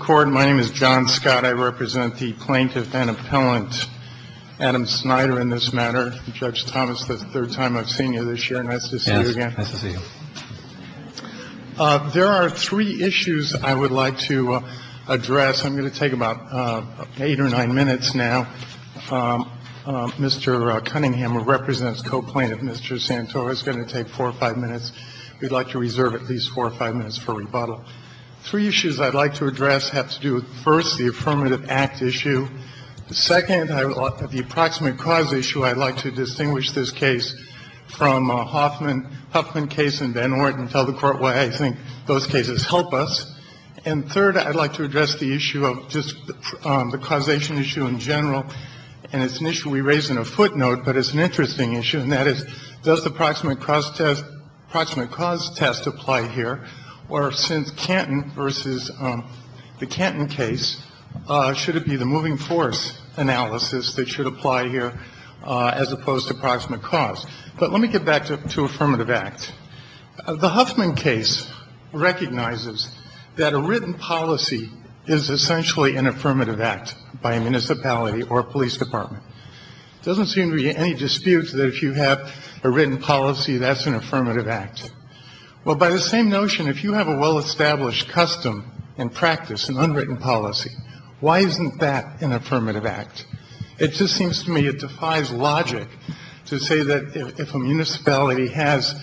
Court. My name is John Scott. I represent the plaintiff and appellant Adam Snyder in this matter, Judge Thomas, the third time I've seen you this year. Nice to see you again. Yes, nice to see you. There are three issues I would like to address. I'm going to take about eight or nine minutes now. Mr. Cunningham, who represents co-plaintiff Mr. Santora, is going to take four or five minutes. We'd like to reserve at least four or five minutes for rebuttal. Three issues I'd like to address have to do with, first, the affirmative act issue. Second, the approximate cause issue. I'd like to distinguish this case from the Huffman case in Van Orden and tell the Court why I think those cases help us. And third, I'd like to address the issue of just the causation issue in general. And it's an issue we raise in a footnote, but it's an interesting issue, and that is, does the approximate cause test apply here, or since Canton versus the Canton case, should it be the moving force analysis that should apply here as opposed to approximate cause? But let me get back to affirmative act. The Huffman case recognizes that a written policy is essentially an affirmative act by a municipality or a police department. Doesn't seem to be any dispute that if you have a written policy, that's an affirmative act. Well, by the same notion, if you have a well-established custom and practice, an unwritten policy, why isn't that an affirmative act? It just seems to me it defies logic to say that if a municipality has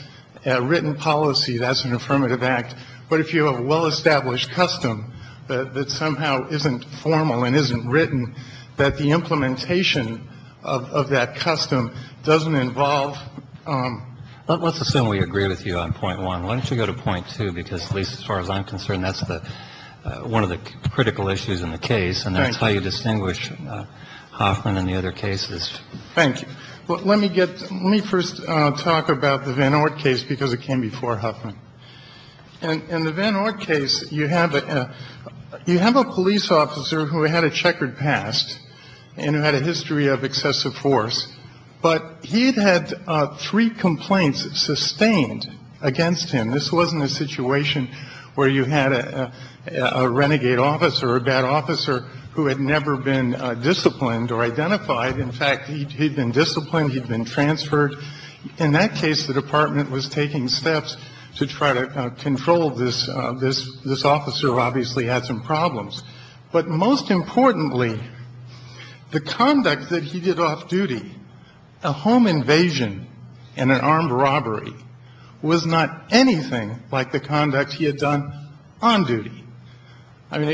a written policy, that's an affirmative act. But if you have a well-established custom that somehow isn't formal and isn't written, that the implementation of that custom doesn't involve Let's assume we agree with you on point one. Why don't you go to point two? Because at least as far as I'm concerned, that's the one of the critical issues in the case. And that's how you distinguish Hoffman and the other cases. Thank you. Let me get let me first talk about the Van Oort case, because it came before Huffman. And in the Van Oort case, you have a you have a police officer who had a checkered past and who had a history of excessive force. But he'd had three complaints sustained against him. This wasn't a situation where you had a renegade officer, a bad officer who had never been disciplined or identified. In fact, he'd been disciplined. He'd been transferred. In that case, the department was taking steps to try to control this. This this officer obviously had some problems. But most importantly, the conduct that he did off duty, a home invasion and an armed robbery was not anything like the conduct he had done on duty. I mean,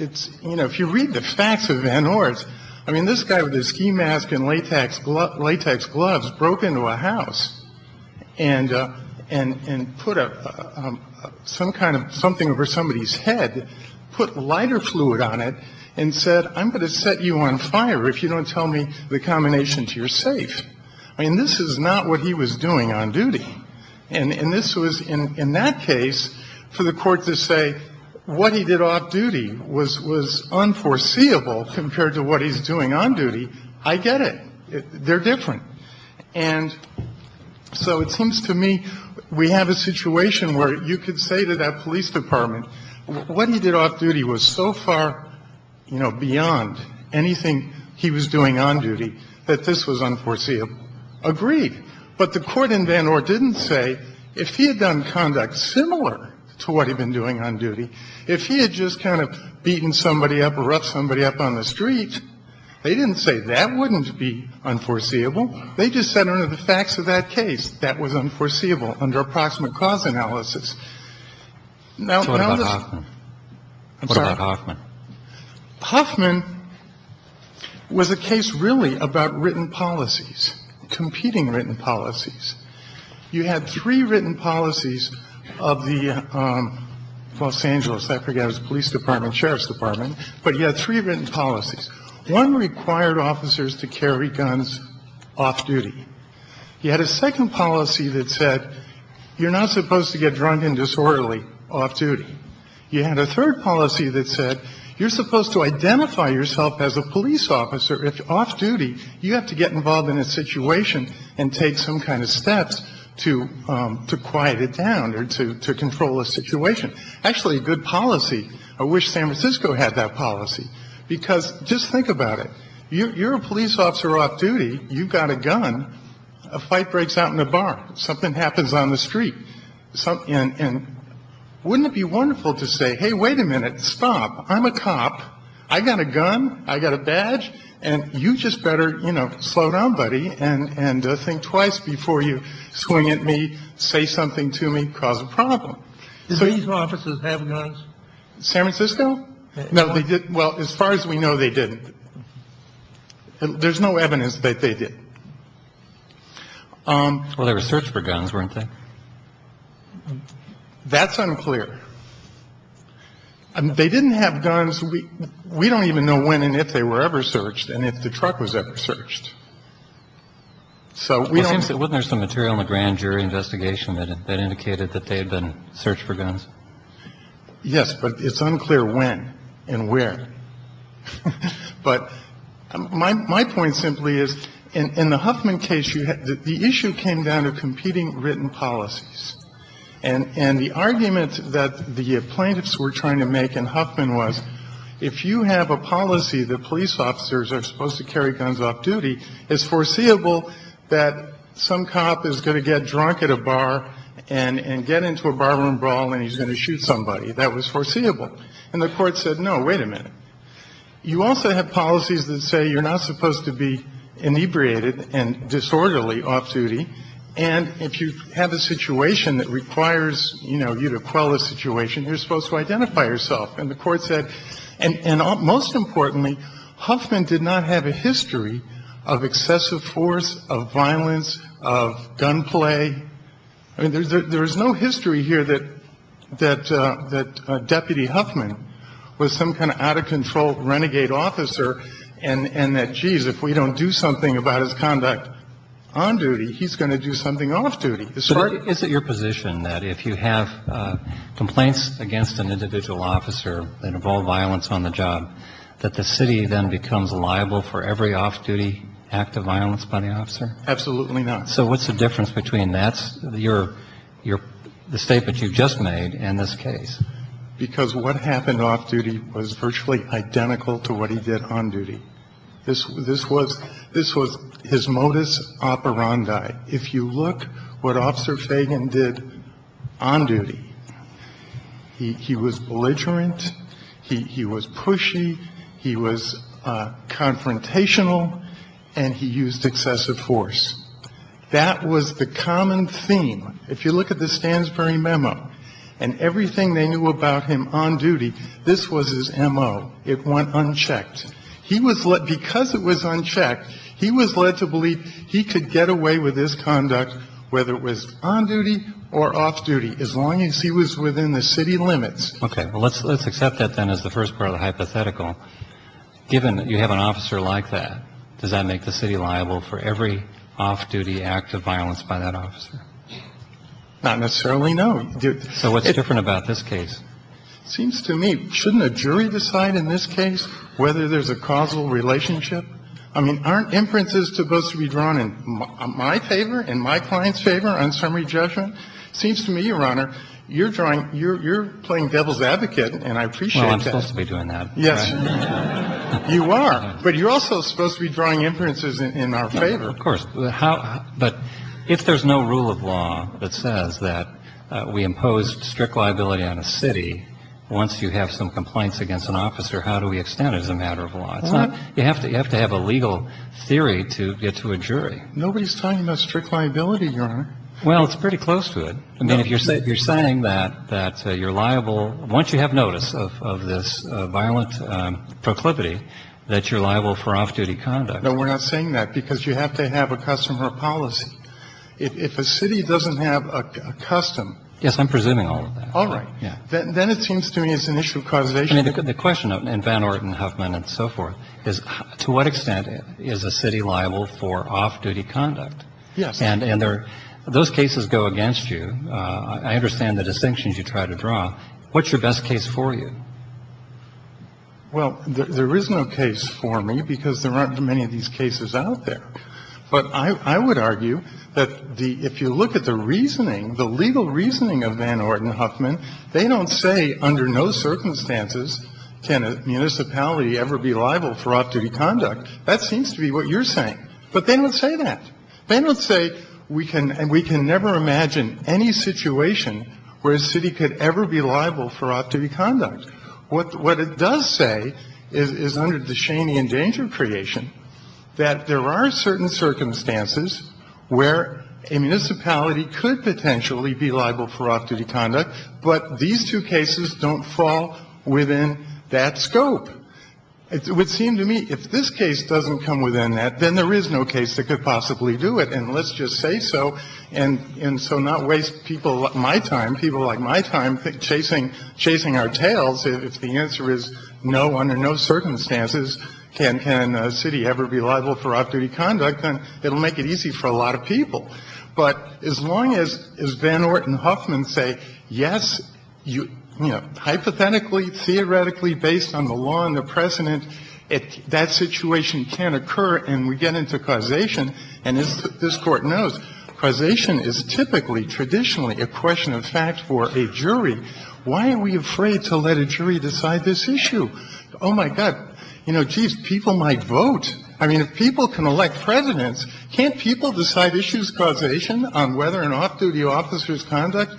it's you know, if you read the facts of Van Oort. I mean, this guy with a ski mask and latex latex gloves broke into a house and and put up some kind of something over somebody's head, put lighter fluid on it and said, I'm going to set you on fire if you don't tell me the combination to your safe. I mean, this is not what he was doing on duty. And this was in that case for the court to say what he did off duty was was unforeseeable compared to what he's doing on duty. I get it. They're different. And so it seems to me we have a situation where you could say to that police department what he did off duty was so far, you know, beyond anything he was doing on duty that this was unforeseeable. Agreed. But the court in Van Oort didn't say if he had done conduct similar to what he'd been doing on duty, if he had just kind of beaten somebody up or up somebody up on the street, they didn't say that wouldn't be unforeseeable. They just said under the facts of that case, that was unforeseeable under approximate cause analysis. Now, what about Hoffman? Hoffman was a case really about written policies, competing written policies. You had three written policies of the Los Angeles police department, sheriff's department, but you had three written policies. One required officers to carry guns off duty. You had a second policy that said you're not supposed to get drunk and disorderly off duty. You had a third policy that said you're supposed to identify yourself as a police officer. If you're off duty, you have to get involved in a situation and take some kind of steps to quiet it down or to control a situation. Actually, a good policy. I wish San Francisco had that policy, because just think about it. You're a police officer off duty. You've got a gun. A fight breaks out in a bar. Something happens on the street. And wouldn't it be wonderful to say, hey, wait a minute, stop. I'm a cop. I got a gun. I got a badge. And you just better, you know, slow down, buddy. And I think twice before you swing at me. Say something to me. Cause a problem. So these officers have guns. San Francisco. No, they didn't. Well, as far as we know, they didn't. There's no evidence that they did. Well, they were searched for guns, weren't they? That's unclear. They didn't have guns. We don't even know when and if they were ever searched and if the truck was ever searched. So it seems that when there's some material in the grand jury investigation that indicated that they had been searched for guns. Yes, but it's unclear when and where. But my point simply is in the Huffman case, the issue came down to competing written policies and the argument that the plaintiffs were trying to make in Huffman was if you have a policy that police officers are supposed to carry guns off duty, it's foreseeable that some cop is going to get drunk at a bar and get into a barroom brawl and he's going to shoot somebody. That was foreseeable. And the court said, no, wait a minute. You also have policies that say you're not supposed to be inebriated and disorderly off duty. And if you have a situation that requires, you know, you to quell the situation, you're supposed to identify yourself. And the court said, and most importantly, Huffman did not have a history of excessive force, of violence, of gunplay. I mean, there's no history here that Deputy Huffman was some kind of out-of-control renegade officer and that, geez, if we don't do something about his conduct on duty, he's going to do something off duty. Is it your position that if you have complaints against an individual officer that involve violence on the job, that the city then becomes liable for every off-duty act of violence by the officer? Absolutely not. So what's the difference between that, your, the statement you just made and this case? Because what happened off duty was virtually identical to what he did on duty. This was his modus operandi. If you look what Officer Fagan did on duty, he was belligerent, he was pushy, he was confrontational, and he used excessive force. That was the common theme. If you look at the Stansbury memo and everything they knew about him on duty, this was his M.O. It went unchecked. He was led, because it was unchecked, he was led to believe he could get away with his conduct, whether it was on duty or off duty, as long as he was within the city limits. Okay. Well, let's accept that, then, as the first part of the hypothetical. Given that you have an officer like that, does that make the city liable for every off-duty act of violence by that officer? Not necessarily, no. So what's different about this case? It seems to me, shouldn't a jury decide in this case whether there's a causal relationship? I mean, aren't inferences supposed to be drawn in my favor, in my client's favor, on summary judgment? It seems to me, Your Honor, you're drawing, you're playing devil's advocate, and I appreciate that. Well, I'm supposed to be doing that. Yes, you are. But you're also supposed to be drawing inferences in our favor. Of course. But if there's no rule of law that says that we impose strict liability on a city, once you have some complaints against an officer, how do we extend it as a matter of law? It's not you have to have a legal theory to get to a jury. Nobody's talking about strict liability, Your Honor. Well, it's pretty close to it. I mean, if you're saying that you're liable, once you have notice of this violent proclivity, that you're liable for off-duty conduct. No, we're not saying that, because you have to have a custom or a policy. If a city doesn't have a custom. Yes, I'm presuming all of that. All right. Yeah. Then it seems to me it's an issue of causation. I mean, the question in Van Orden, Huffman, and so forth, is to what extent is a city liable for off-duty conduct? Yes. And those cases go against you. I understand the distinctions you try to draw. What's your best case for you? Well, there is no case for me, because there aren't many of these cases out there. But I would argue that if you look at the reasoning, the legal reasoning of Van Orden and Huffman, they don't say under no circumstances can a municipality ever be liable for off-duty conduct. That seems to be what you're saying. But they don't say that. They don't say we can never imagine any situation where a city could ever be liable for off-duty conduct. What it does say is, under the Cheyney and Danger creation, that there are certain circumstances where a municipality could potentially be liable for off-duty conduct, but these two cases don't fall within that scope. It would seem to me if this case doesn't come within that, then there is no case that could possibly do it. And let's just say so, and so not waste people like my time, people like my time, chasing our tails. If the answer is no, under no circumstances can a city ever be liable for off-duty conduct, then it'll make it easy for a lot of people. But as long as Van Orden and Huffman say, yes, you know, hypothetically, theoretically, based on the law and the precedent, that situation can occur and we get into causation. And as this Court knows, causation is typically, traditionally, a question of fact for a jury. Why are we afraid to let a jury decide this issue? Oh, my God. You know, geez, people might vote. I mean, if people can elect presidents, can't people decide issues of causation on whether an off-duty officer's conduct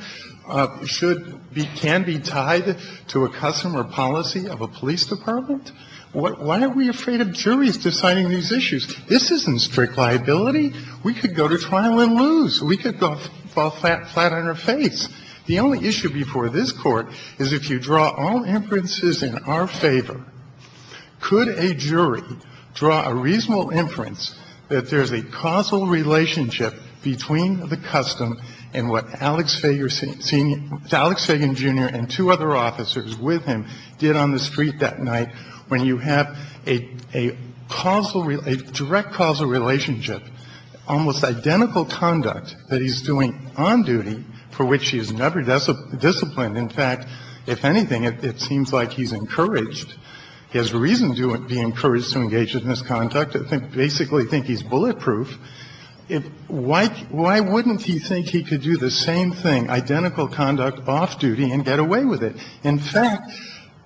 should be, can be tied to a custom or policy of a police department? Why are we afraid of juries deciding these issues? This isn't strict liability. We could go to trial and lose. We could go fall flat on our face. The only issue before this Court is if you draw all inferences in our favor, could a jury draw a reasonable inference that there's a causal relationship between the custom and what Alex Fager, Senior, Alex Fager, Jr., and two other officers with him did on the street that night when you have a causal, a direct causal relationship, almost identical conduct that he's doing on duty for which he is never disciplined. In fact, if anything, it seems like he's encouraged. He has reason to be encouraged to engage in this conduct. I basically think he's bulletproof. Why wouldn't he think he could do the same thing, identical conduct off-duty, and get away with it? In fact,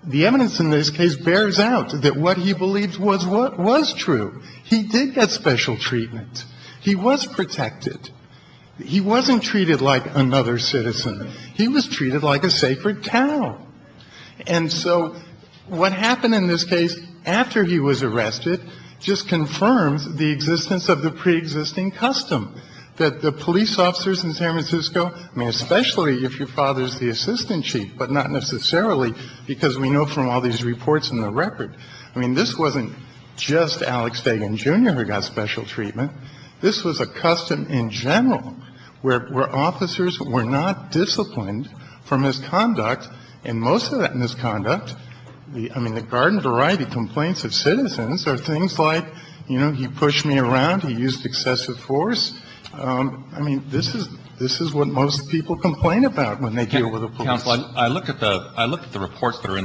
the evidence in this case bears out that what he believed was true. He did get special treatment. He was protected. He wasn't treated like another citizen. He was treated like a sacred cow. And so what happened in this case after he was arrested just confirms the existence of the preexisting custom that the police officers in San Francisco, I mean, especially if your father is the assistant chief, but not necessarily because we know from all these reports in the record, I mean, this wasn't just Alex Fager, Jr., who got special And most of that misconduct, I mean, the garden variety complaints of citizens are things like, you know, he pushed me around, he used excessive force. I mean, this is what most people complain about when they deal with the police. I looked at the reports that are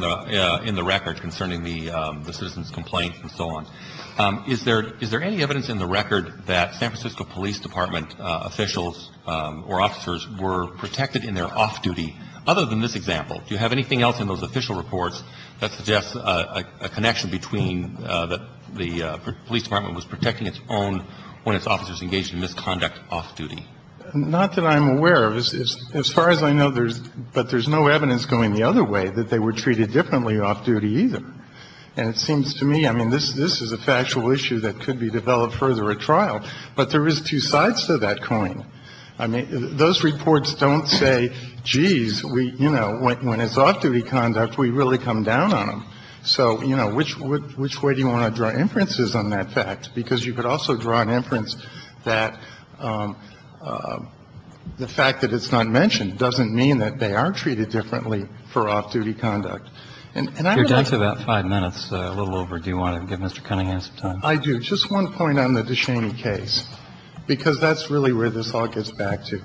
in the record concerning the citizens' complaints and so on. Is there any evidence in the record that San Francisco Police Department officials or officers were protected in their off-duty? Other than this example, do you have anything else in those official reports that suggests a connection between that the police department was protecting its own when its officers engaged in misconduct off-duty? Not that I'm aware of. As far as I know, there's no evidence going the other way that they were treated differently off-duty either. And it seems to me, I mean, this is a factual issue that could be developed further at trial, but there is two sides to that coin. I mean, those reports don't say, jeez, we, you know, when it's off-duty conduct, we really come down on them. So, you know, which way do you want to draw inferences on that fact? Because you could also draw an inference that the fact that it's not mentioned doesn't mean that they are treated differently for off-duty conduct. And I don't know if you want to give Mr. Cunningham some time. DE SHANEY, HENRY STARR COURT REPORTER, CHAMBER OF COMMERCE COUNSELOR, DURING THIS EXAMINATION TO?!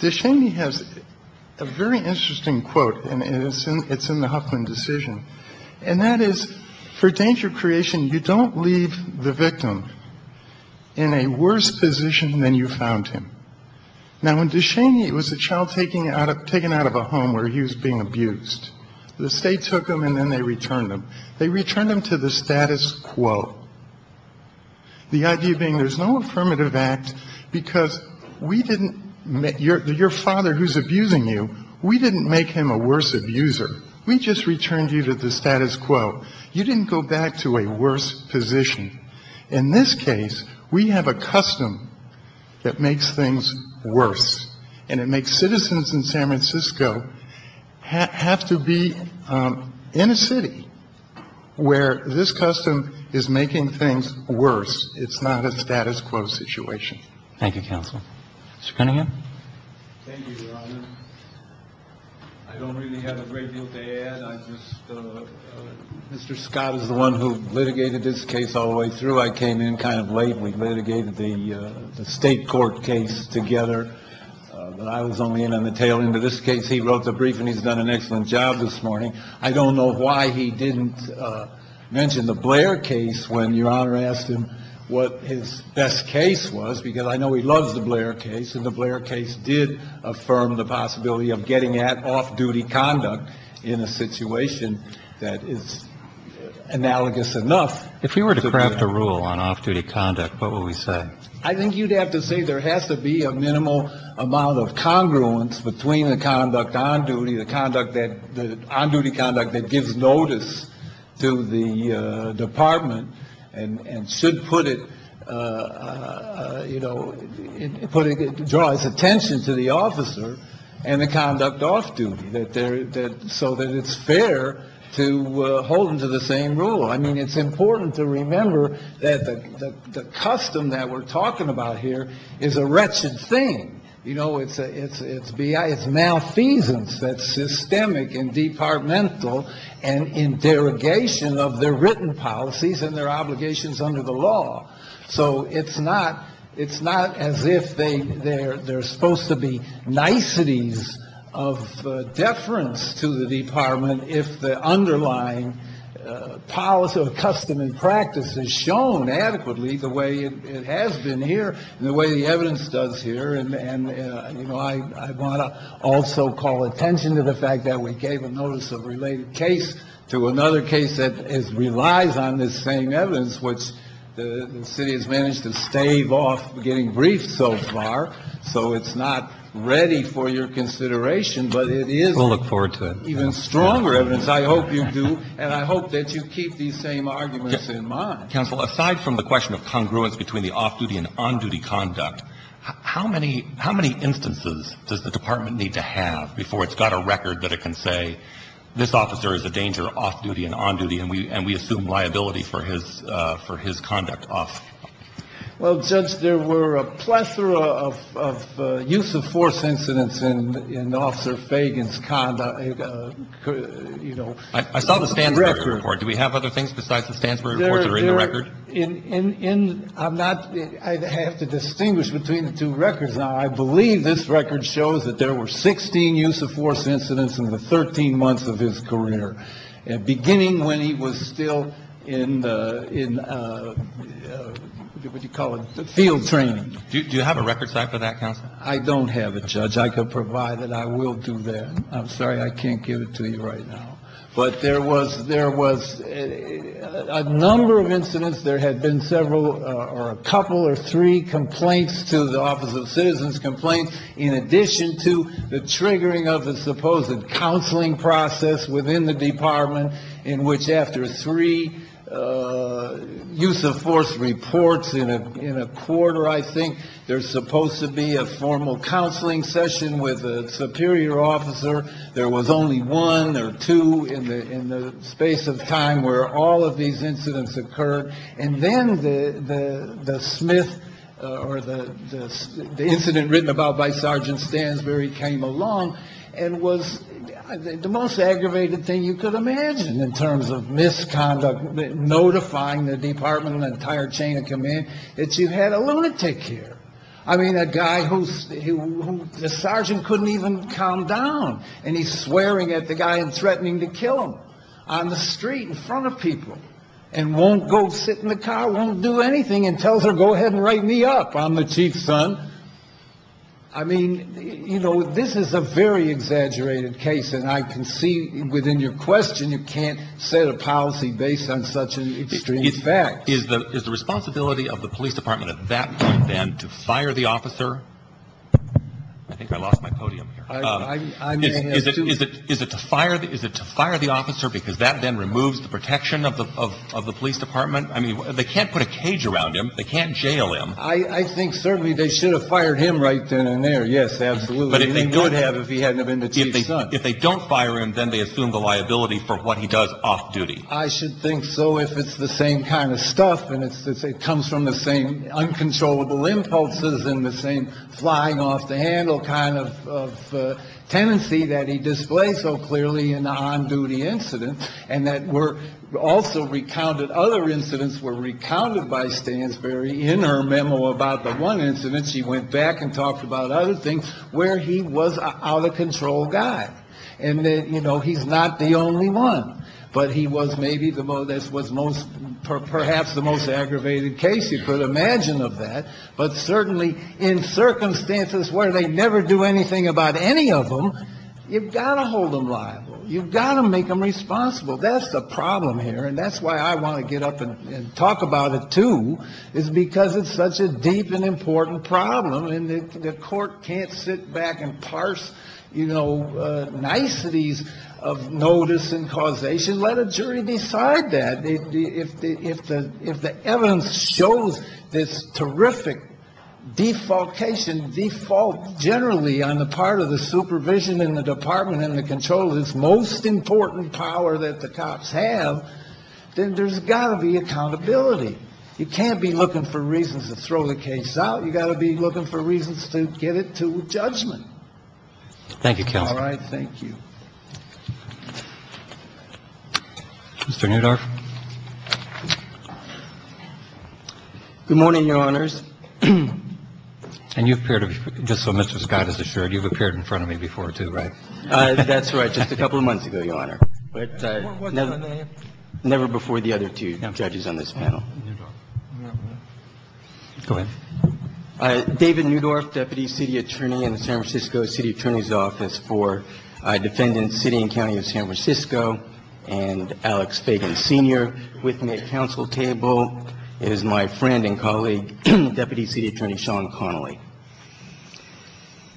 DE SHANEY HAS A VERY INTERESTING QUOTE. AND IT'S IN THE HUFFLING DECISION AND THAT IS, FOR DANGER, CREATION, YOU DON'T LEAVE THE VICTIM IN A WORSE POSITION THAN YOU FOUND HIM. NOW, WHEN DE SHANEY WAS A CHILD TAKEN OUT OF A HOME WHERE HE WAS BEING ABUSED, THE STATE TOOK HIM AND THEN THEY RETURNED HIM. THEY RETURNED HIM TO THE STATUS QUO. THE IDEA BEING THERE'S NO AFFIRMATIVE ACT BECAUSE WE DIDN'T, YOUR FATHER, WHO'S ABUSING YOU, WE DIDN'T MAKE HIM A WORSE ABUSER. WE JUST RETURNED YOU TO THE STATUS QUO. YOU DIDN'T GO BACK TO A WORSE POSITION. IN THIS CASE, WE HAVE A CUSTOM THAT MAKES THINGS WORSE. AND IT MAKES CITIZENS IN SAN FRANCISCO HAVE TO BE IN A CITY WHERE THIS CUSTOM IS MAKING THINGS WORSE. IT'S NOT A STATUS QUO SITUATION. THANK YOU, COUNSEL. MR. CUNNINGHAM? THANK YOU, RONAN. I DON'T REALLY HAVE A GREAT DEAL TO ADD. I JUST, MR. SCOTT IS THE ONE WHO LITIGATED THIS CASE ALL THE WAY THROUGH. I CAME IN KIND OF LATE. WE LITIGATED THE STATE COURT CASE TOGETHER. I WAS ONLY IN ON THE TAIL END OF THIS CASE. HE WROTE THE BRIEF AND HE'S DONE AN EXCELLENT JOB THIS MORNING. I DON'T KNOW WHY HE DIDN'T MENTION THE BLAIR CASE WHEN YOUR HONOR ASKED HIM WHAT HIS BEST CASE WAS, BECAUSE I KNOW HE LOVES THE BLAIR CASE. AND THE BLAIR CASE DID AFFIRM THE POSSIBILITY OF GETTING AT OFF-DUTY CONDUCT IN A SITUATION THAT IS ANALOGOUS ENOUGH. IF WE WERE TO CRAFT A RULE ON OFF-DUTY CONDUCT, WHAT WOULD WE SAY? I THINK YOU'D HAVE TO SAY THERE HAS TO BE A MINIMAL AMOUNT OF CONGRUENCE BETWEEN THE CONDUCT ON DUTY, THE CONDUCT THAT, THE ON-DUTY CONDUCT THAT GIVES NOTICE TO THE DEPARTMENT. AND SHOULD PUT IT, YOU KNOW, DRAW ITS ATTENTION TO THE OFFICER AND THE CONDUCT OFF-DUTY. SO THAT IT'S FAIR TO HOLD THEM TO THE SAME RULE. I MEAN, IT'S IMPORTANT TO REMEMBER THAT THE CUSTOM THAT WE'RE TALKING ABOUT HERE IS A WRETCHED THING. YOU KNOW, IT'S MALFEASANCE THAT'S SYSTEMIC AND DEPARTMENTAL AND IN DEROGATION OF THEIR WRITTEN POLICIES AND THEIR OBLIGATIONS UNDER THE LAW. SO IT'S NOT AS IF THEY'RE SUPPOSED TO BE NICETIES OF DEFERENCE TO THE DEPARTMENT IF THE UNDERLYING POLICY OR CUSTOM AND PRACTICE IS SHOWN ADEQUATELY THE WAY IT HAS BEEN HERE AND THE WAY THE EVIDENCE DOES HERE. AND, YOU KNOW, I WANT TO ALSO CALL ATTENTION TO THE FACT THAT WE GAVE A NOTICE OF RELATED CASE TO ANOTHER CASE THAT RELIES ON THIS SAME EVIDENCE, WHICH THE CITY HAS MANAGED TO STAVE OFF GETTING BRIEFED SO FAR. SO IT'S NOT READY FOR YOUR CONSIDERATION, BUT IT IS EVEN STRONGER EVIDENCE. I HOPE YOU DO, AND I HOPE THAT YOU KEEP THESE SAME ARGUMENTS IN MIND. I WANT TO ASK YOU, COUNSEL, ASIDE FROM THE QUESTION OF CONGRUENCE BETWEEN THE OFF-DUTY AND ON-DUTY CONDUCT, HOW MANY INSTANCES DOES THE DEPARTMENT NEED TO HAVE BEFORE IT'S GOT A RECORD THAT IT CAN SAY THIS OFFICER IS A DANGER OFF-DUTY AND ON-DUTY AND WE ASSUME LIABILITY FOR HIS CONDUCT OFF-DUTY? I'M NOT — I HAVE TO DISTINGUISH BETWEEN THE TWO RECORDS. NOW, I BELIEVE THIS RECORD SHOWS THAT THERE WERE 16 USE OF FORCE INCIDENTS IN THE 13 MONTHS OF HIS CAREER, BEGINNING WHEN HE WAS STILL IN, WHAT DO YOU CALL IT, FIELD TRAINING. DO YOU HAVE A RECORD SITE FOR THAT, COUNSEL? I DON'T HAVE IT, JUDGE. I COULD PROVIDE IT. I WILL DO THAT. I'M SORRY, I CAN'T GIVE IT TO YOU RIGHT NOW. BUT THERE WAS A NUMBER OF INCIDENTS, THERE HAD BEEN SEVERAL, OR A COUPLE OR THREE, COMPLAINTS TO THE OFFICE OF CITIZENS' COMPLAINTS IN ADDITION TO THE TRIGGERING OF THE SUPPOSED COUNSELING PROCESS WITHIN THE DEPARTMENT IN WHICH AFTER THREE USE OF FORCE REPORTS IN A QUARTER, I THINK, THERE'S SUPPOSED TO BE A FORMAL COUNSELING SESSION WITH A SUPERIOR OFFICER. THERE WAS ONLY ONE OR TWO IN THE SPACE OF TIME WHERE ALL OF THESE INCIDENTS OCCURRED. AND THEN THE SMITH, OR THE INCIDENT WRITTEN ABOUT BY SERGEANT STANSBURY CAME ALONG AND WAS THE MOST AGGRAVATED THING YOU COULD IMAGINE IN TERMS OF MISCONDUCT, NOTIFYING THE DEPARTMENT AND THE ENTIRE CHAIN OF COMMAND THAT YOU HAD A LUNATIC HERE. I MEAN, A GUY WHO THE SERGEANT COULDN'T EVEN CALM DOWN, AND HE'S SWEARING AT THE GUY AND THREATENING TO KILL HIM ON THE STREET IN FRONT OF PEOPLE, AND WON'T GO SIT IN THE CAR, WON'T DO ANYTHING, AND TELLS HER, GO AHEAD AND WRITE ME UP, I'M THE CHIEF'S SON. I MEAN, YOU KNOW, THIS IS A VERY EXAGGERATED CASE, AND I CAN SEE WITHIN YOUR QUESTION YOU CAN'T SET A POLICY BASED ON SUCH EXTREME FACTS. IS THE RESPONSIBILITY OF THE POLICE DEPARTMENT AT THAT POINT THEN TO FIRE THE OFFICER? I THINK I LOST MY PODIUM HERE. IS IT TO FIRE THE OFFICER BECAUSE THAT THEN REMOVES THE PROTECTION OF THE POLICE DEPARTMENT? I MEAN, THEY CAN'T PUT A CAGE AROUND HIM. THEY CAN'T JAIL HIM. I THINK CERTAINLY THEY SHOULD HAVE FIRED HIM RIGHT THEN AND THERE. YES, ABSOLUTELY. THEY WOULD HAVE IF HE HADN'T BEEN THE CHIEF'S SON. IF THEY DON'T FIRE HIM, THEN THEY ASSUME THE LIABILITY FOR WHAT HE DOES OFF DUTY. I SHOULD THINK SO IF IT'S THE SAME KIND OF STUFF AND IT COMES FROM THE SAME UNCONTROLLABLE IMPULSES AND THE SAME FLYING OFF THE HANDLE KIND OF TENDENCY THAT HE DISPLAYED SO CLEARLY IN THE ON DUTY INCIDENT AND THAT ALSO OTHER INCIDENTS WERE RECOUNTED BY STANSBURY IN HER MEMO ABOUT THE ONE INCIDENT SHE WENT BACK AND TALKED ABOUT OTHER THINGS WHERE HE WAS OUT OF CONTROL GUY. AND THAT HE'S NOT THE ONLY ONE. BUT HE WAS MAYBE PERHAPS THE MOST AGGRAVATED CASE YOU COULD IMAGINE OF THAT. BUT CERTAINLY IN CIRCUMSTANCES WHERE THEY NEVER DO ANYTHING ABOUT ANY OF THEM, YOU'VE GOT TO HOLD THEM LIABLE. YOU'VE GOT TO MAKE THEM RESPONSIBLE. THAT'S THE PROBLEM HERE. AND THAT'S WHY I WANT TO GET UP AND TALK ABOUT IT TOO. I THINK THE PROBLEM IS BECAUSE IT'S SUCH A DEEP AND IMPORTANT PROBLEM. AND THE COURT CAN'T SIT BACK AND PARSE, YOU KNOW, NICETIES OF NOTICE AND CAUSATION. LET A JURY DECIDE THAT. AND THE COURT CAN'T SIT BACK AND PARSE, YOU KNOW, NICETIES OF NOTICE AND CAUSATION. THE COURT CAN'T SIT BACK AND PARSE, YOU KNOW, NICETIES OF NOTICE AND CAUSATION. BUT IF THE EVIDENCE SHOWS THIS TERRIFIC DEFAULTATION, DEFAULT GENERALLY ON THE PART OF THE SUPERVISION AND THE DEPARTMENT AND THE CONTROL OF THIS MOST IMPORTANT POWER THAT THE COPS HAVE, THEN THERE'S GOT TO BE ACCOUNTABILITY. YOU CAN'T BE LOOKING FOR REASONS TO THROW THE CASE OUT. YOU'VE GOT TO BE LOOKING FOR REASONS TO GET IT TO JUDGEMENT. Thank you, Counselor. All right. Thank you. Mr. Neudorf. Good morning, Your Honors. And you appear to be, just so Mr. Scott is assured, you've appeared in front of me before, too, right? That's right. Just a couple of months ago, Your Honor. But never before the other two judges on this panel. Go ahead. David Neudorf, Deputy City Attorney in the San Francisco City Attorney's Office for Defendants, City and County of San Francisco. And Alex Fagan, Sr., with me at the counsel table is my friend and colleague, Deputy City Attorney Sean Connolly.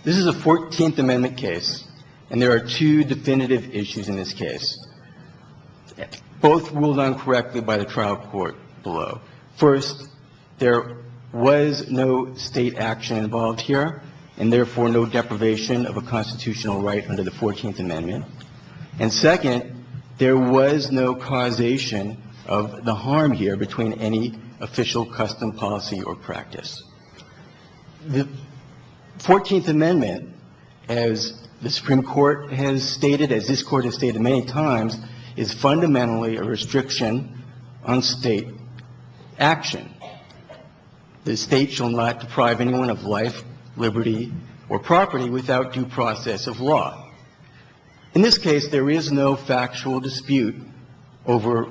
This is a 14th Amendment case, and there are two definitive issues in this case. Both ruled uncorrectly by the trial court below. First, there was no state action involved here, and therefore no deprivation of a constitutional right under the 14th Amendment. And second, there was no causation of the harm here between any official custom policy or practice. The 14th Amendment, as the Supreme Court has stated, as this Court has stated many times, is fundamentally a restriction on state action. The state shall not deprive anyone of life, liberty, or property without due process of law. In this case, there is no factual dispute over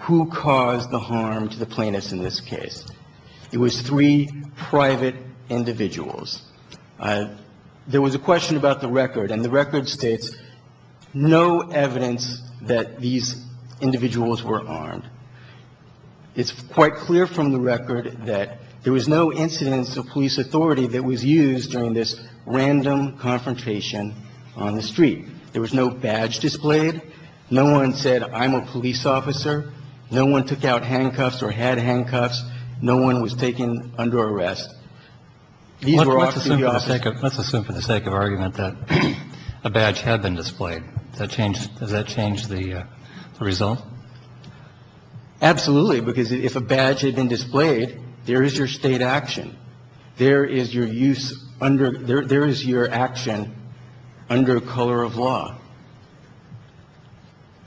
who caused the harm to the plaintiffs in this case. It was three private individuals. There was a question about the record, and the record states no evidence that these individuals were armed. It's quite clear from the record that there was no incidence of police authority that was used during this random confrontation on the street. There was no badge displayed. No one said, I'm a police officer. No one took out handcuffs or had handcuffs. No one was taken under arrest. These were officers. Kennedy. Let's assume for the sake of argument that a badge had been displayed. Does that change the result? Absolutely. Because if a badge had been displayed, there is your state action. There is your use under – there is your action under color of law.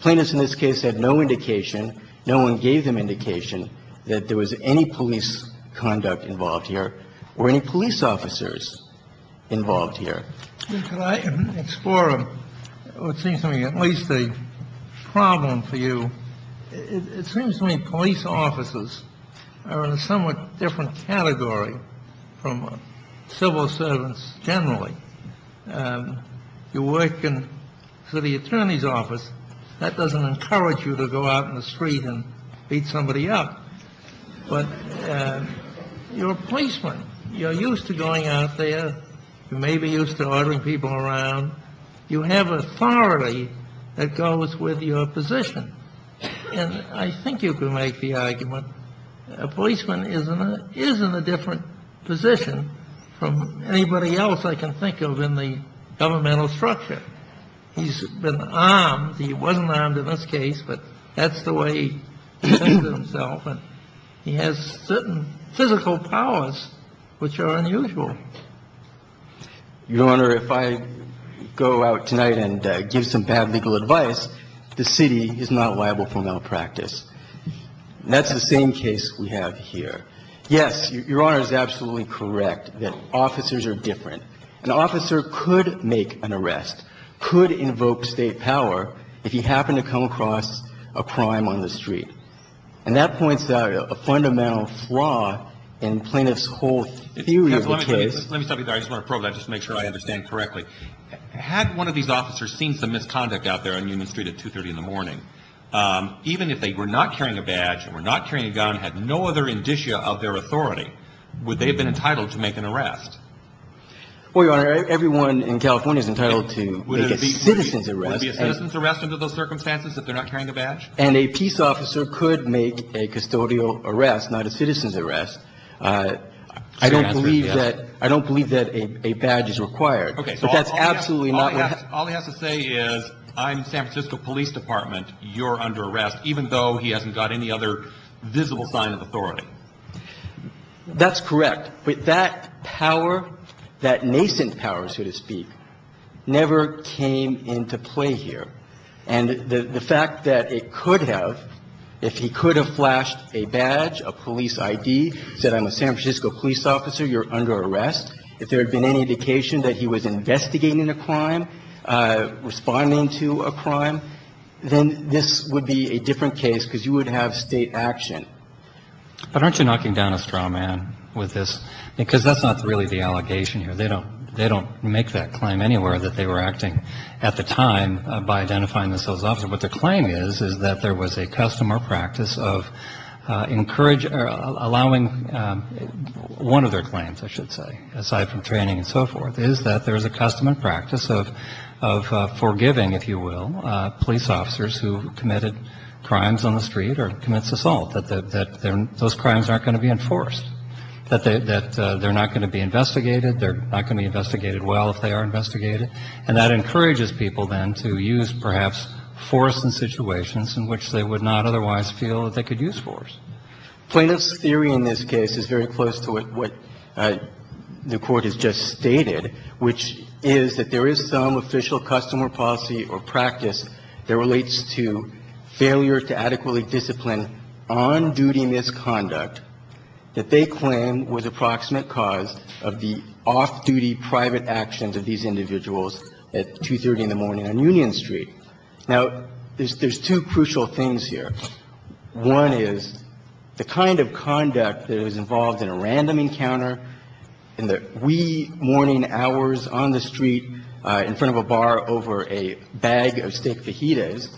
Plaintiffs in this case had no indication. No one gave them indication that there was any police conduct involved here or any police officers involved here. Could I explore what seems to me at least a problem for you? It seems to me police officers are in a somewhat different category from civil servants generally. You work in city attorney's office. That doesn't encourage you to go out in the street and beat somebody up. But you're a policeman. You're used to going out there. You may be used to ordering people around. You have authority that goes with your position. And I think you can make the argument a policeman is in a different position from anybody else I can think of. I think you can make the argument a policeman is in a different position from anybody else I can think of in the governmental structure. He's been armed. He wasn't armed in this case, but that's the way he presents himself. And he has certain physical powers which are unusual. Your Honor, if I go out tonight and give some bad legal advice, the city is not liable for malpractice. That's the same case we have here. Yes, Your Honor is absolutely correct that officers are different. An officer could make an arrest, could invoke State power if he happened to come across a crime on the street. And that points out a fundamental flaw in plaintiff's whole theory of the case. Let me stop you there. I just want to probe that just to make sure I understand correctly. Had one of these officers seen some misconduct out there on Newman Street at 2.30 in the morning, even if they were not carrying a badge, were not carrying a gun, had no other indicia of their authority, would they have been entitled to make an arrest? Well, Your Honor, everyone in California is entitled to make a citizen's arrest. Would it be a citizen's arrest under those circumstances if they're not carrying a badge? And a peace officer could make a custodial arrest, not a citizen's arrest. I don't believe that a badge is required. Okay, so all he has to say is, I'm San Francisco Police Department, you're under arrest, even though he hasn't got any other visible sign of authority. That's correct. But that power, that nascent power, so to speak, never came into play here. And the fact that it could have, if he could have flashed a badge, a police I.D., said I'm a San Francisco police officer, you're under arrest. If there had been any indication that he was investigating a crime, responding to a crime, then this would be a different case because you would have state action. But aren't you knocking down a straw man with this? Because that's not really the allegation here. They don't make that claim anywhere that they were acting at the time by identifying the civil officer. What the claim is, is that there was a custom or practice of encouraging, allowing one of their claims, I should say, aside from training and so forth, is that there is a custom and practice of forgiving, if you will, police officers who committed crimes on the street or commits assault, that those crimes aren't going to be enforced, that they're not going to be investigated, they're not going to be investigated well if they are investigated. And that encourages people then to use, perhaps, force in situations in which they would not otherwise feel that they could use force. Plaintiff's theory in this case is very close to what the Court has just stated, which is that there is some official custom or policy or practice that relates to failure to adequately discipline on-duty misconduct that they claim was approximate because of the off-duty private actions of these individuals at 2.30 in the morning on Union Street. Now, there's two crucial things here. One is the kind of conduct that is involved in a random encounter, in the wee morning hours on the street in front of a bar over a bag of steak fajitas,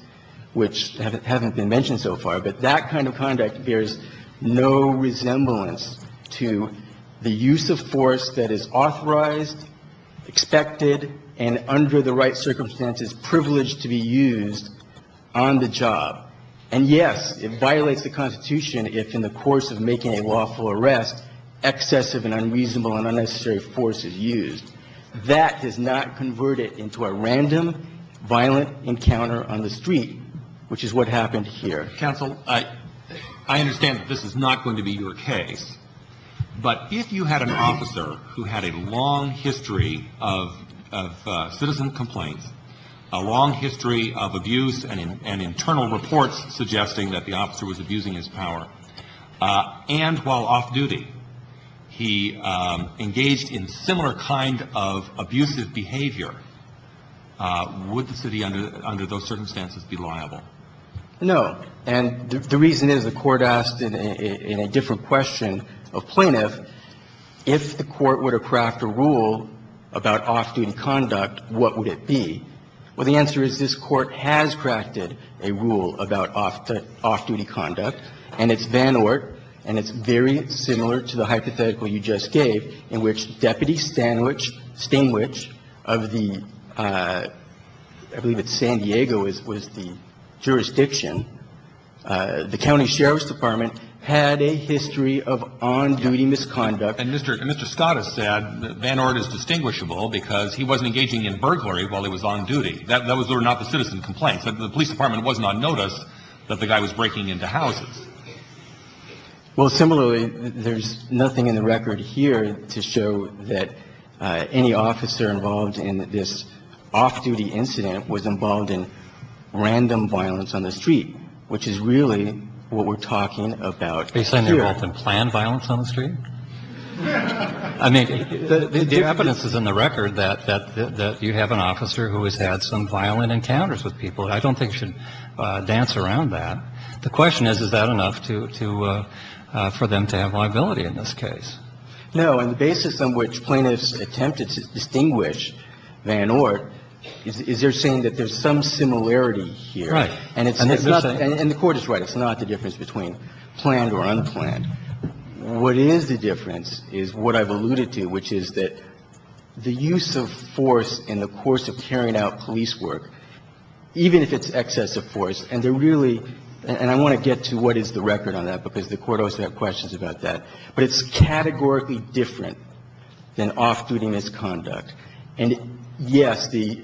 which haven't been mentioned so far, but that kind of conduct bears no resemblance to the use of force that is authorized, expected, and under the right circumstances, privileged to be used on the job. And, yes, it violates the Constitution if in the course of making a lawful arrest excessive and unreasonable and unnecessary force is used. That does not convert it into a random violent encounter on the street, which is what happened here. Counsel, I understand that this is not going to be your case, but if you had an officer who had a long history of citizen complaints, a long history of abuse and internal reports suggesting that the officer was abusing his power, and while off-duty, he engaged in similar kind of abusive behavior, would the city under those circumstances be liable? No. And the reason is the Court asked in a different question of plaintiff, if the Court were to craft a rule about off-duty conduct, what would it be? Well, the answer is this Court has crafted a rule about off-duty conduct, and it's Van Oort, and it's very similar to the hypothetical you just gave in which Deputy Sandwich Stingwich of the, I believe it's San Diego was the jurisdiction, the County Sheriff's Department had a history of on-duty misconduct. And Mr. Scott has said that Van Oort is distinguishable because he wasn't engaging in burglary while he was on duty. Those were not the citizen complaints. The police department wasn't on notice that the guy was breaking into houses. Well, similarly, there's nothing in the record here to show that any officer involved in this off-duty incident was involved in random violence on the street, which is really what we're talking about here. Are you saying they were involved in planned violence on the street? I mean, the evidence is in the record that you have an officer who has had some violent encounters with people. I don't think it should dance around that. The question is, is that enough to, for them to have liability in this case? No. And the basis on which plaintiffs attempted to distinguish Van Oort is they're saying that there's some similarity here. Right. And it's not, and the Court is right. It's not the difference between planned or unplanned. What is the difference is what I've alluded to, which is that the use of force in the And I want to get to what is the record on that, because the Court also has questions about that, but it's categorically different than off-duty misconduct. And, yes, the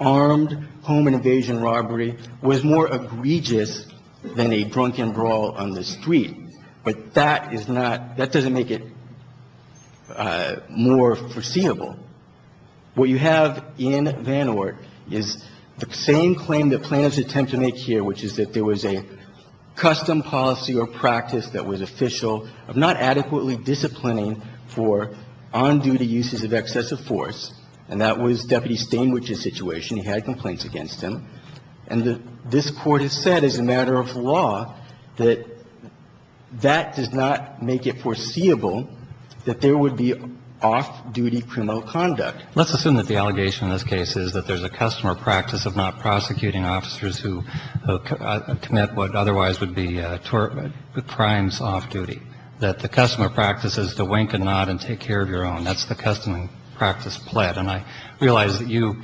armed home invasion robbery was more egregious than a drunken brawl on the street, but that is not, that doesn't make it more foreseeable. What you have in Van Oort is the same claim that plaintiffs attempt to make here, which is that there was a custom policy or practice that was official of not adequately disciplining for on-duty uses of excessive force, and that was Deputy Stainwich's situation. He had complaints against him. And this Court has said, as a matter of law, that that does not make it foreseeable that there would be off-duty criminal conduct. Let's assume that the allegation in this case is that there's a custom or practice of not prosecuting officers who commit what otherwise would be crimes off-duty, that the custom or practice is to wink and nod and take care of your own. That's the custom and practice pled. And I realize that you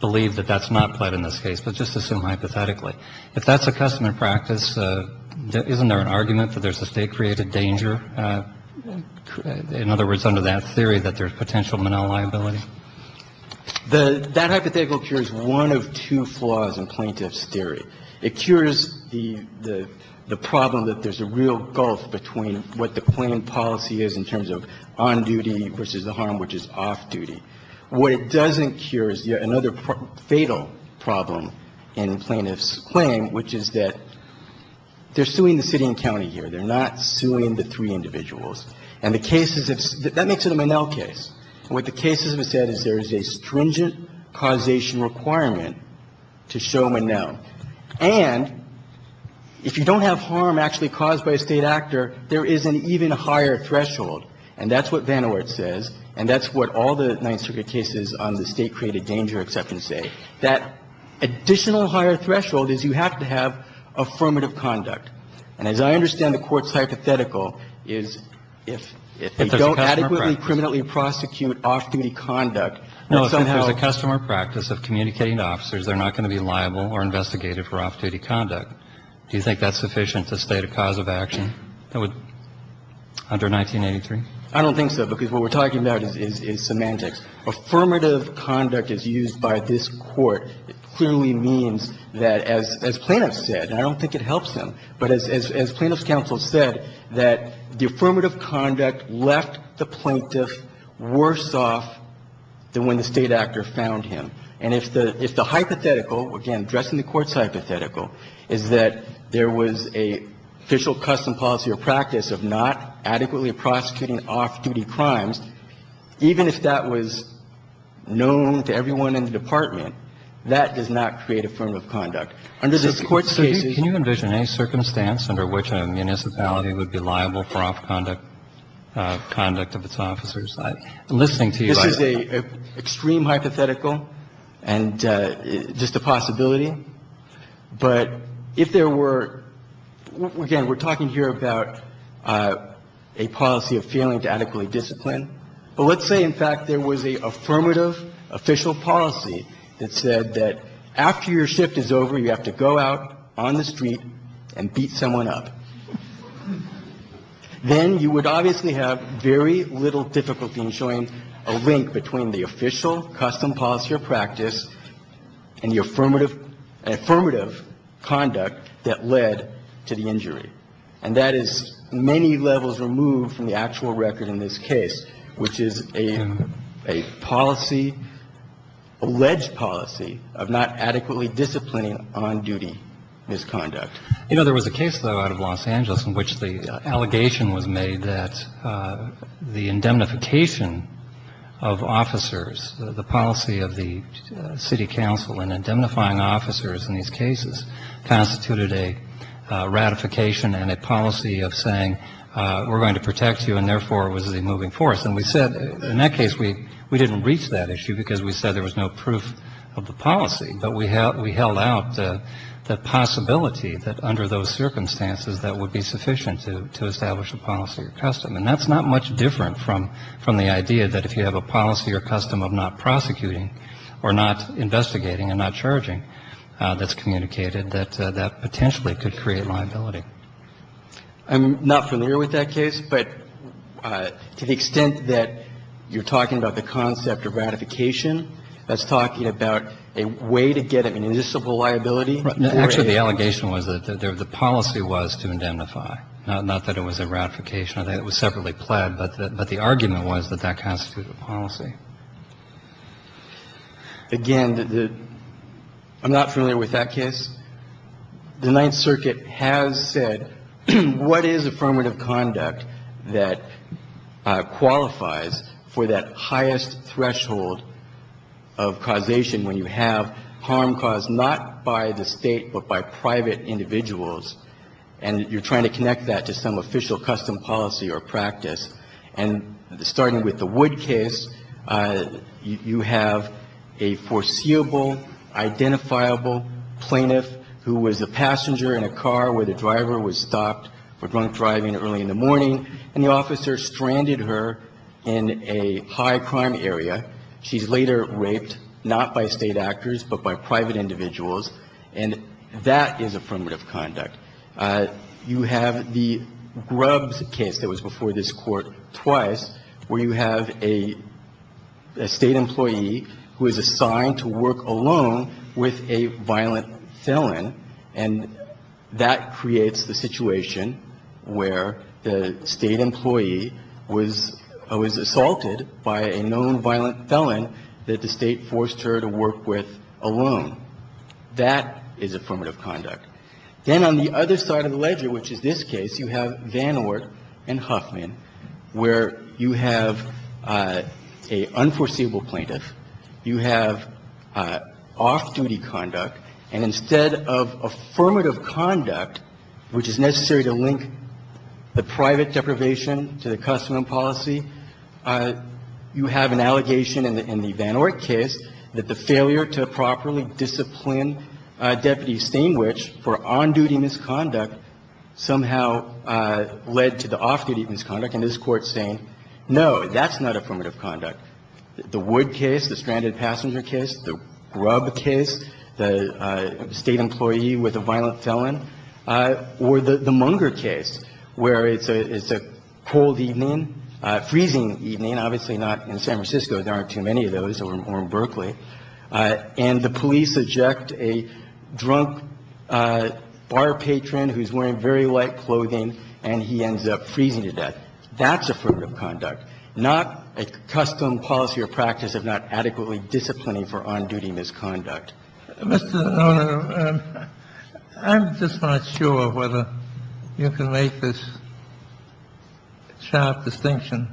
believe that that's not pled in this case, but just assume hypothetically. If that's a custom and practice, isn't there an argument that there's a state-created danger, in other words, under that theory, that there's potential manel liability? That hypothetical cure is one of two flaws in plaintiff's theory. It cures the problem that there's a real gulf between what the plaintiff policy is in terms of on-duty versus the harm which is off-duty. What it doesn't cure is yet another fatal problem in plaintiff's claim, which is that they're suing the city and county here. They're not suing the three individuals. And the cases of the – that makes it a manel case. And what the cases have said is there is a stringent causation requirement to show manel. And if you don't have harm actually caused by a State actor, there is an even higher threshold, and that's what Van Oort says, and that's what all the Ninth Circuit cases on the state-created danger exception say. That additional higher threshold is you have to have affirmative conduct. And as I understand the Court's hypothetical is if they don't adequately criminally prosecute off-duty conduct, that somehow – No, if there's a customer practice of communicating to officers, they're not going to be liable or investigated for off-duty conduct. Do you think that's sufficient to state a cause of action that would – under 1983? I don't think so, because what we're talking about is semantics. Affirmative conduct as used by this Court clearly means that, as plaintiff said, and I don't think it helps him, but as plaintiff's counsel said, that the affirmative conduct left the plaintiff worse off than when the State actor found him. And if the hypothetical, again, addressing the Court's hypothetical, is that there was an official custom policy or practice of not adequately prosecuting off-duty crimes, even if that was known to everyone in the department, that does not create affirmative conduct. Under this Court's case – So can you envision any circumstance under which a municipality would be liable for off-conduct of its officers? I'm listening to you right now. This is an extreme hypothetical and just a possibility. But if there were – again, we're talking here about a policy of failing to adequately discipline. But let's say, in fact, there was an affirmative official policy that said that after your shift is over, you have to go out on the street and beat someone up. Then you would obviously have very little difficulty in showing a link between the official custom policy or practice and the affirmative conduct that led to the injury. And that is many levels removed from the actual record in this case, which is a policy of not adequately disciplining on-duty misconduct. You know, there was a case, though, out of Los Angeles in which the allegation was made that the indemnification of officers, the policy of the city council in indemnifying officers in these cases constituted a ratification and a policy of saying we're going to protect you and therefore it was a moving force. And we said in that case we didn't reach that issue because we said there was no proof of the policy. But we held out the possibility that under those circumstances that would be sufficient to establish a policy or custom. And that's not much different from the idea that if you have a policy or custom of not prosecuting or not investigating and not charging that's communicated that that potentially could create liability. I'm not familiar with that case, but to the extent that you're talking about the concept of ratification, that's talking about a way to get at municipal liability. Actually, the allegation was that the policy was to indemnify, not that it was a ratification. I think it was separately pled, but the argument was that that constituted policy. Again, I'm not familiar with that case. The Ninth Circuit has said what is affirmative conduct that qualifies for that highest threshold of causation when you have harm caused not by the State but by private individuals and you're trying to connect that to some official custom policy or practice. And starting with the Wood case, you have a foreseeable, identifiable plaintiff who was a passenger in a car where the driver was stopped for drunk driving early in the morning, and the officer stranded her in a high-crime area. She's later raped, not by State actors, but by private individuals. And that is affirmative conduct. You have the Grubbs case that was before this Court twice, where you have a State employee who is assigned to work alone with a violent felon, and that creates the situation where the State employee was assaulted by a known violent felon that the State forced her to work with alone. That is affirmative conduct. Then on the other side of the ledger, which is this case, you have Van Oort and Huffman, where you have an unforeseeable plaintiff, you have off-duty conduct, and instead of affirmative conduct, which is necessary to link the private deprivation to the custom and policy, you have an allegation in the Van Oort case that the failure to properly discipline deputies, same which for on-duty misconduct, somehow led to off-duty misconduct. And this Court's saying, no, that's not affirmative conduct. The Wood case, the stranded passenger case, the Grubb case, the State employee with a violent felon, or the Munger case, where it's a cold evening, freezing evening, obviously not in San Francisco. There aren't too many of those, or in Berkeley. And the police eject a drunk bar patron who's wearing very light clothing, and he ends up freezing to death. That's affirmative conduct, not a custom, policy, or practice of not adequately disciplining for on-duty misconduct. Mr. Donohue, I'm just not sure whether you can make this sharp distinction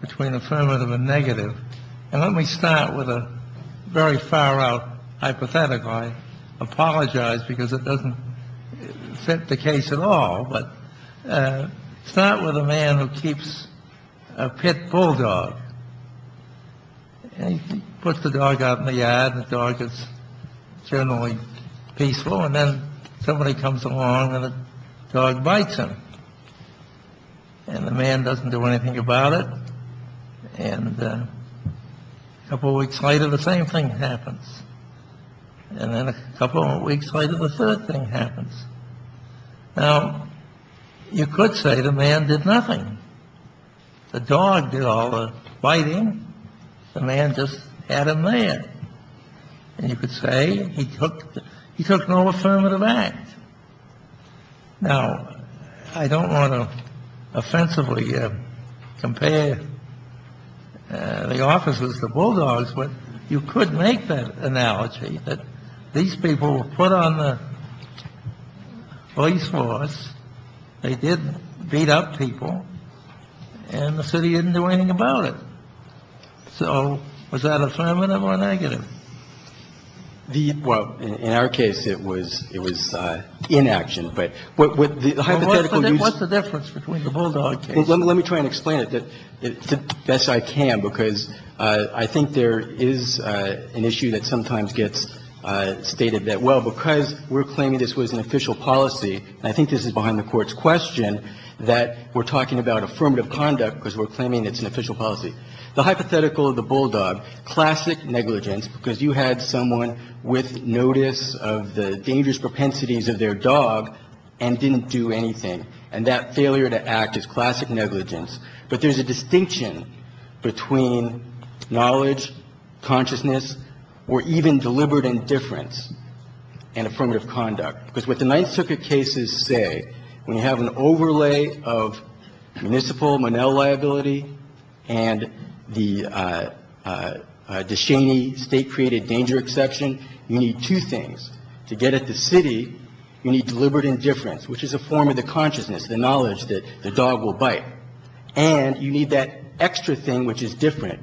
between affirmative and negative. And let me start with a very far-out hypothetical. I apologize, because it doesn't fit the case at all. But start with a man who keeps a pet bulldog. He puts the dog out in the yard. The dog is generally peaceful. And then somebody comes along, and the dog bites him. And the man doesn't do anything about it. And a couple weeks later, the same thing happens. And then a couple weeks later, the third thing happens. Now, you could say the man did nothing. The dog did all the biting. The man just had him there. And you could say he took no affirmative act. Now, I don't want to offensively compare the officers to bulldogs, but you could make that analogy that these people were put on the police force. They did beat up people. And the city didn't do anything about it. So was that affirmative or negative? Mr. Donohue. Well, in our case, it was inaction. But with the hypothetical use of the bulldog case. Well, let me try and explain it the best I can, because I think there is an issue that sometimes gets stated that, well, because we're claiming this was an official policy, and I think this is behind the Court's question, that we're talking about affirmative conduct because we're claiming it's an official policy. The hypothetical of the bulldog, classic negligence, because you had someone with notice of the dangerous propensities of their dog and didn't do anything. And that failure to act is classic negligence. But there's a distinction between knowledge, consciousness, or even deliberate indifference in affirmative conduct. Because what the Ninth Circuit cases say, when you have an overlay of municipal Monell liability and the Descheny state-created danger exception, you need two things. To get at the city, you need deliberate indifference, which is a form of the consciousness, the knowledge that the dog will bite. And you need that extra thing which is different,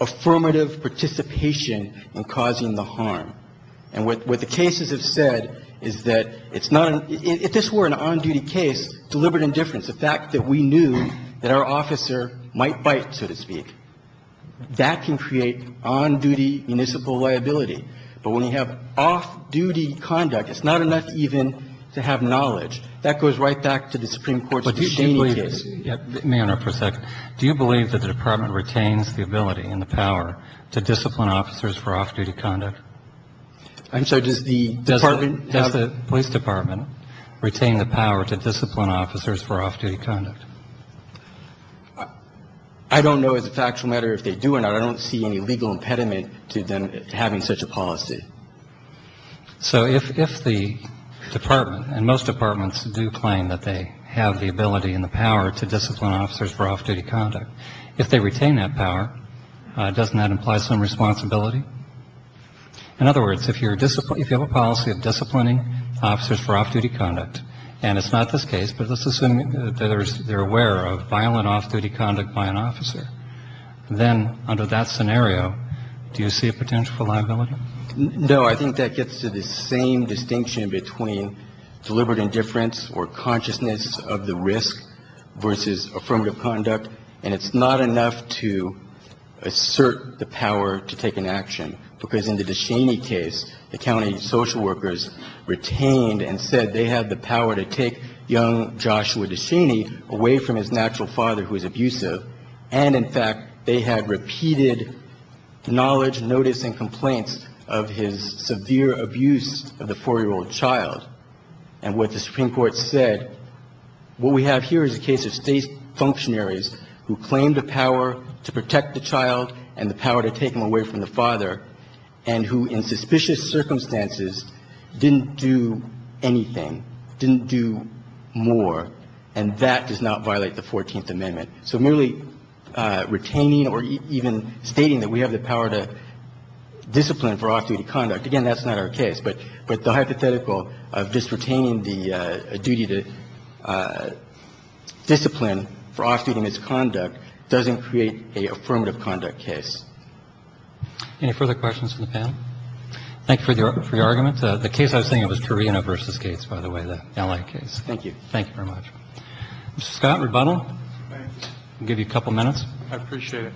affirmative participation in causing the harm. And what the cases have said is that it's not an – if this were an on-duty case, deliberate indifference, the fact that we knew that our officer might bite, so to speak, that can create on-duty municipal liability. But when you have off-duty conduct, it's not enough even to have knowledge. That goes right back to the Supreme Court's Descheny case. But do you believe – may I interrupt for a second? Do you believe that the Department retains the ability and the power to discipline officers for off-duty conduct? I'm sorry. Does the Department have the – Does the police department retain the power to discipline officers for off-duty conduct? I don't know as a factual matter if they do or not. I don't see any legal impediment to them having such a policy. So if the Department – and most departments do claim that they have the ability and the power to discipline officers for off-duty conduct – if they retain that power, doesn't that imply some responsibility? In other words, if you're – if you have a policy of disciplining officers for off-duty conduct, and it's not this case, but let's assume that there's – they're aware of that scenario, do you see a potential for liability? No. I think that gets to the same distinction between deliberate indifference or consciousness of the risk versus affirmative conduct. And it's not enough to assert the power to take an action, because in the Descheny case, the county social workers retained and said they had the power to take young Joshua Descheny away from his natural father, who was abusive. And, in fact, they had repeated knowledge, notice and complaints of his severe abuse of the 4-year-old child. And what the Supreme Court said, what we have here is a case of state functionaries who claim the power to protect the child and the power to take him away from the father and who, in suspicious circumstances, didn't do anything, didn't do more. And that does not violate the 14th Amendment. So merely retaining or even stating that we have the power to discipline for off-duty conduct, again, that's not our case. But the hypothetical of just retaining the duty to discipline for off-duty misconduct doesn't create a affirmative conduct case. Any further questions from the panel? Thank you for your argument. The case I was thinking of was Torino v. Gates, by the way, the L.A. case. Thank you. Thank you very much. Mr. Scott, rebuttal. I'll give you a couple minutes. I appreciate it.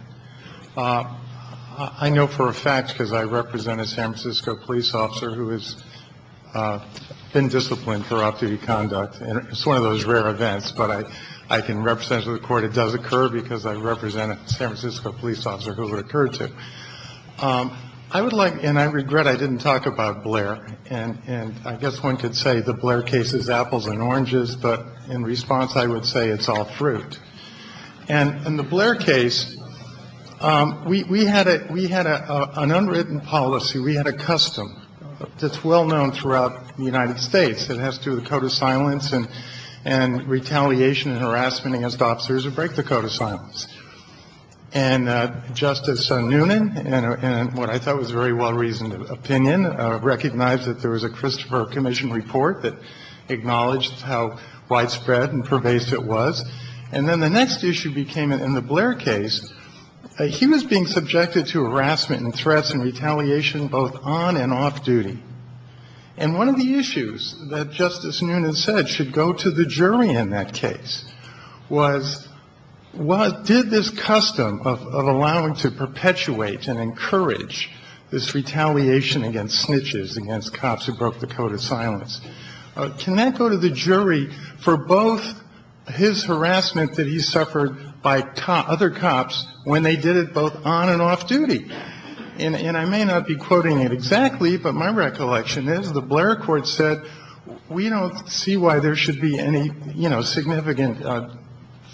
I know for a fact, because I represent a San Francisco police officer who has been disciplined for off-duty conduct, and it's one of those rare events, but I can represent the Court it does occur because I represent a San Francisco police officer who it occurred to. I would like, and I regret I didn't talk about Blair, and I guess one could say the And in the Blair case, we had an unwritten policy, we had a custom that's well-known throughout the United States. It has to do with code of silence and retaliation and harassment against officers who break the code of silence. And Justice Noonan, in what I thought was a very well-reasoned opinion, recognized that there was a Christopher Commission report that acknowledged how widespread and pervasive it was. And then the next issue became, in the Blair case, he was being subjected to harassment and threats and retaliation both on and off-duty. And one of the issues that Justice Noonan said should go to the jury in that case was did this custom of allowing to perpetuate and encourage this retaliation against snitches, against cops who broke the code of silence, can that go to the jury for both his harassment that he suffered by other cops when they did it both on and off-duty? And I may not be quoting it exactly, but my recollection is the Blair court said, we don't see why there should be any significant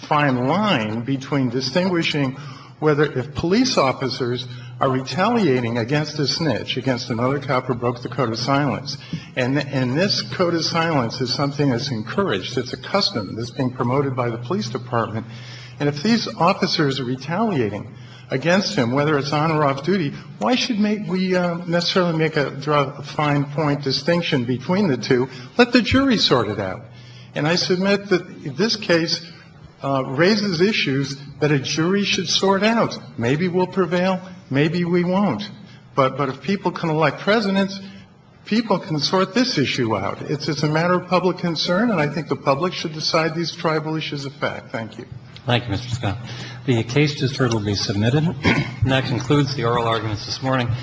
fine line between distinguishing whether if police officers are retaliating against a snitch, against another cop who broke the code of silence. And this code of silence is something that's encouraged. It's a custom that's being promoted by the police department. And if these officers are retaliating against him, whether it's on or off-duty, why should we necessarily make a fine point distinction between the two? Let the jury sort it out. And I submit that this case raises issues that a jury should sort out. Maybe we'll prevail. Maybe we won't. But if people can elect presidents, people can sort this issue out. It's a matter of public concern, and I think the public should decide these tribal issues are fact. Thank you. Thank you, Mr. Scott. The case discord will be submitted. And that concludes the oral arguments this morning.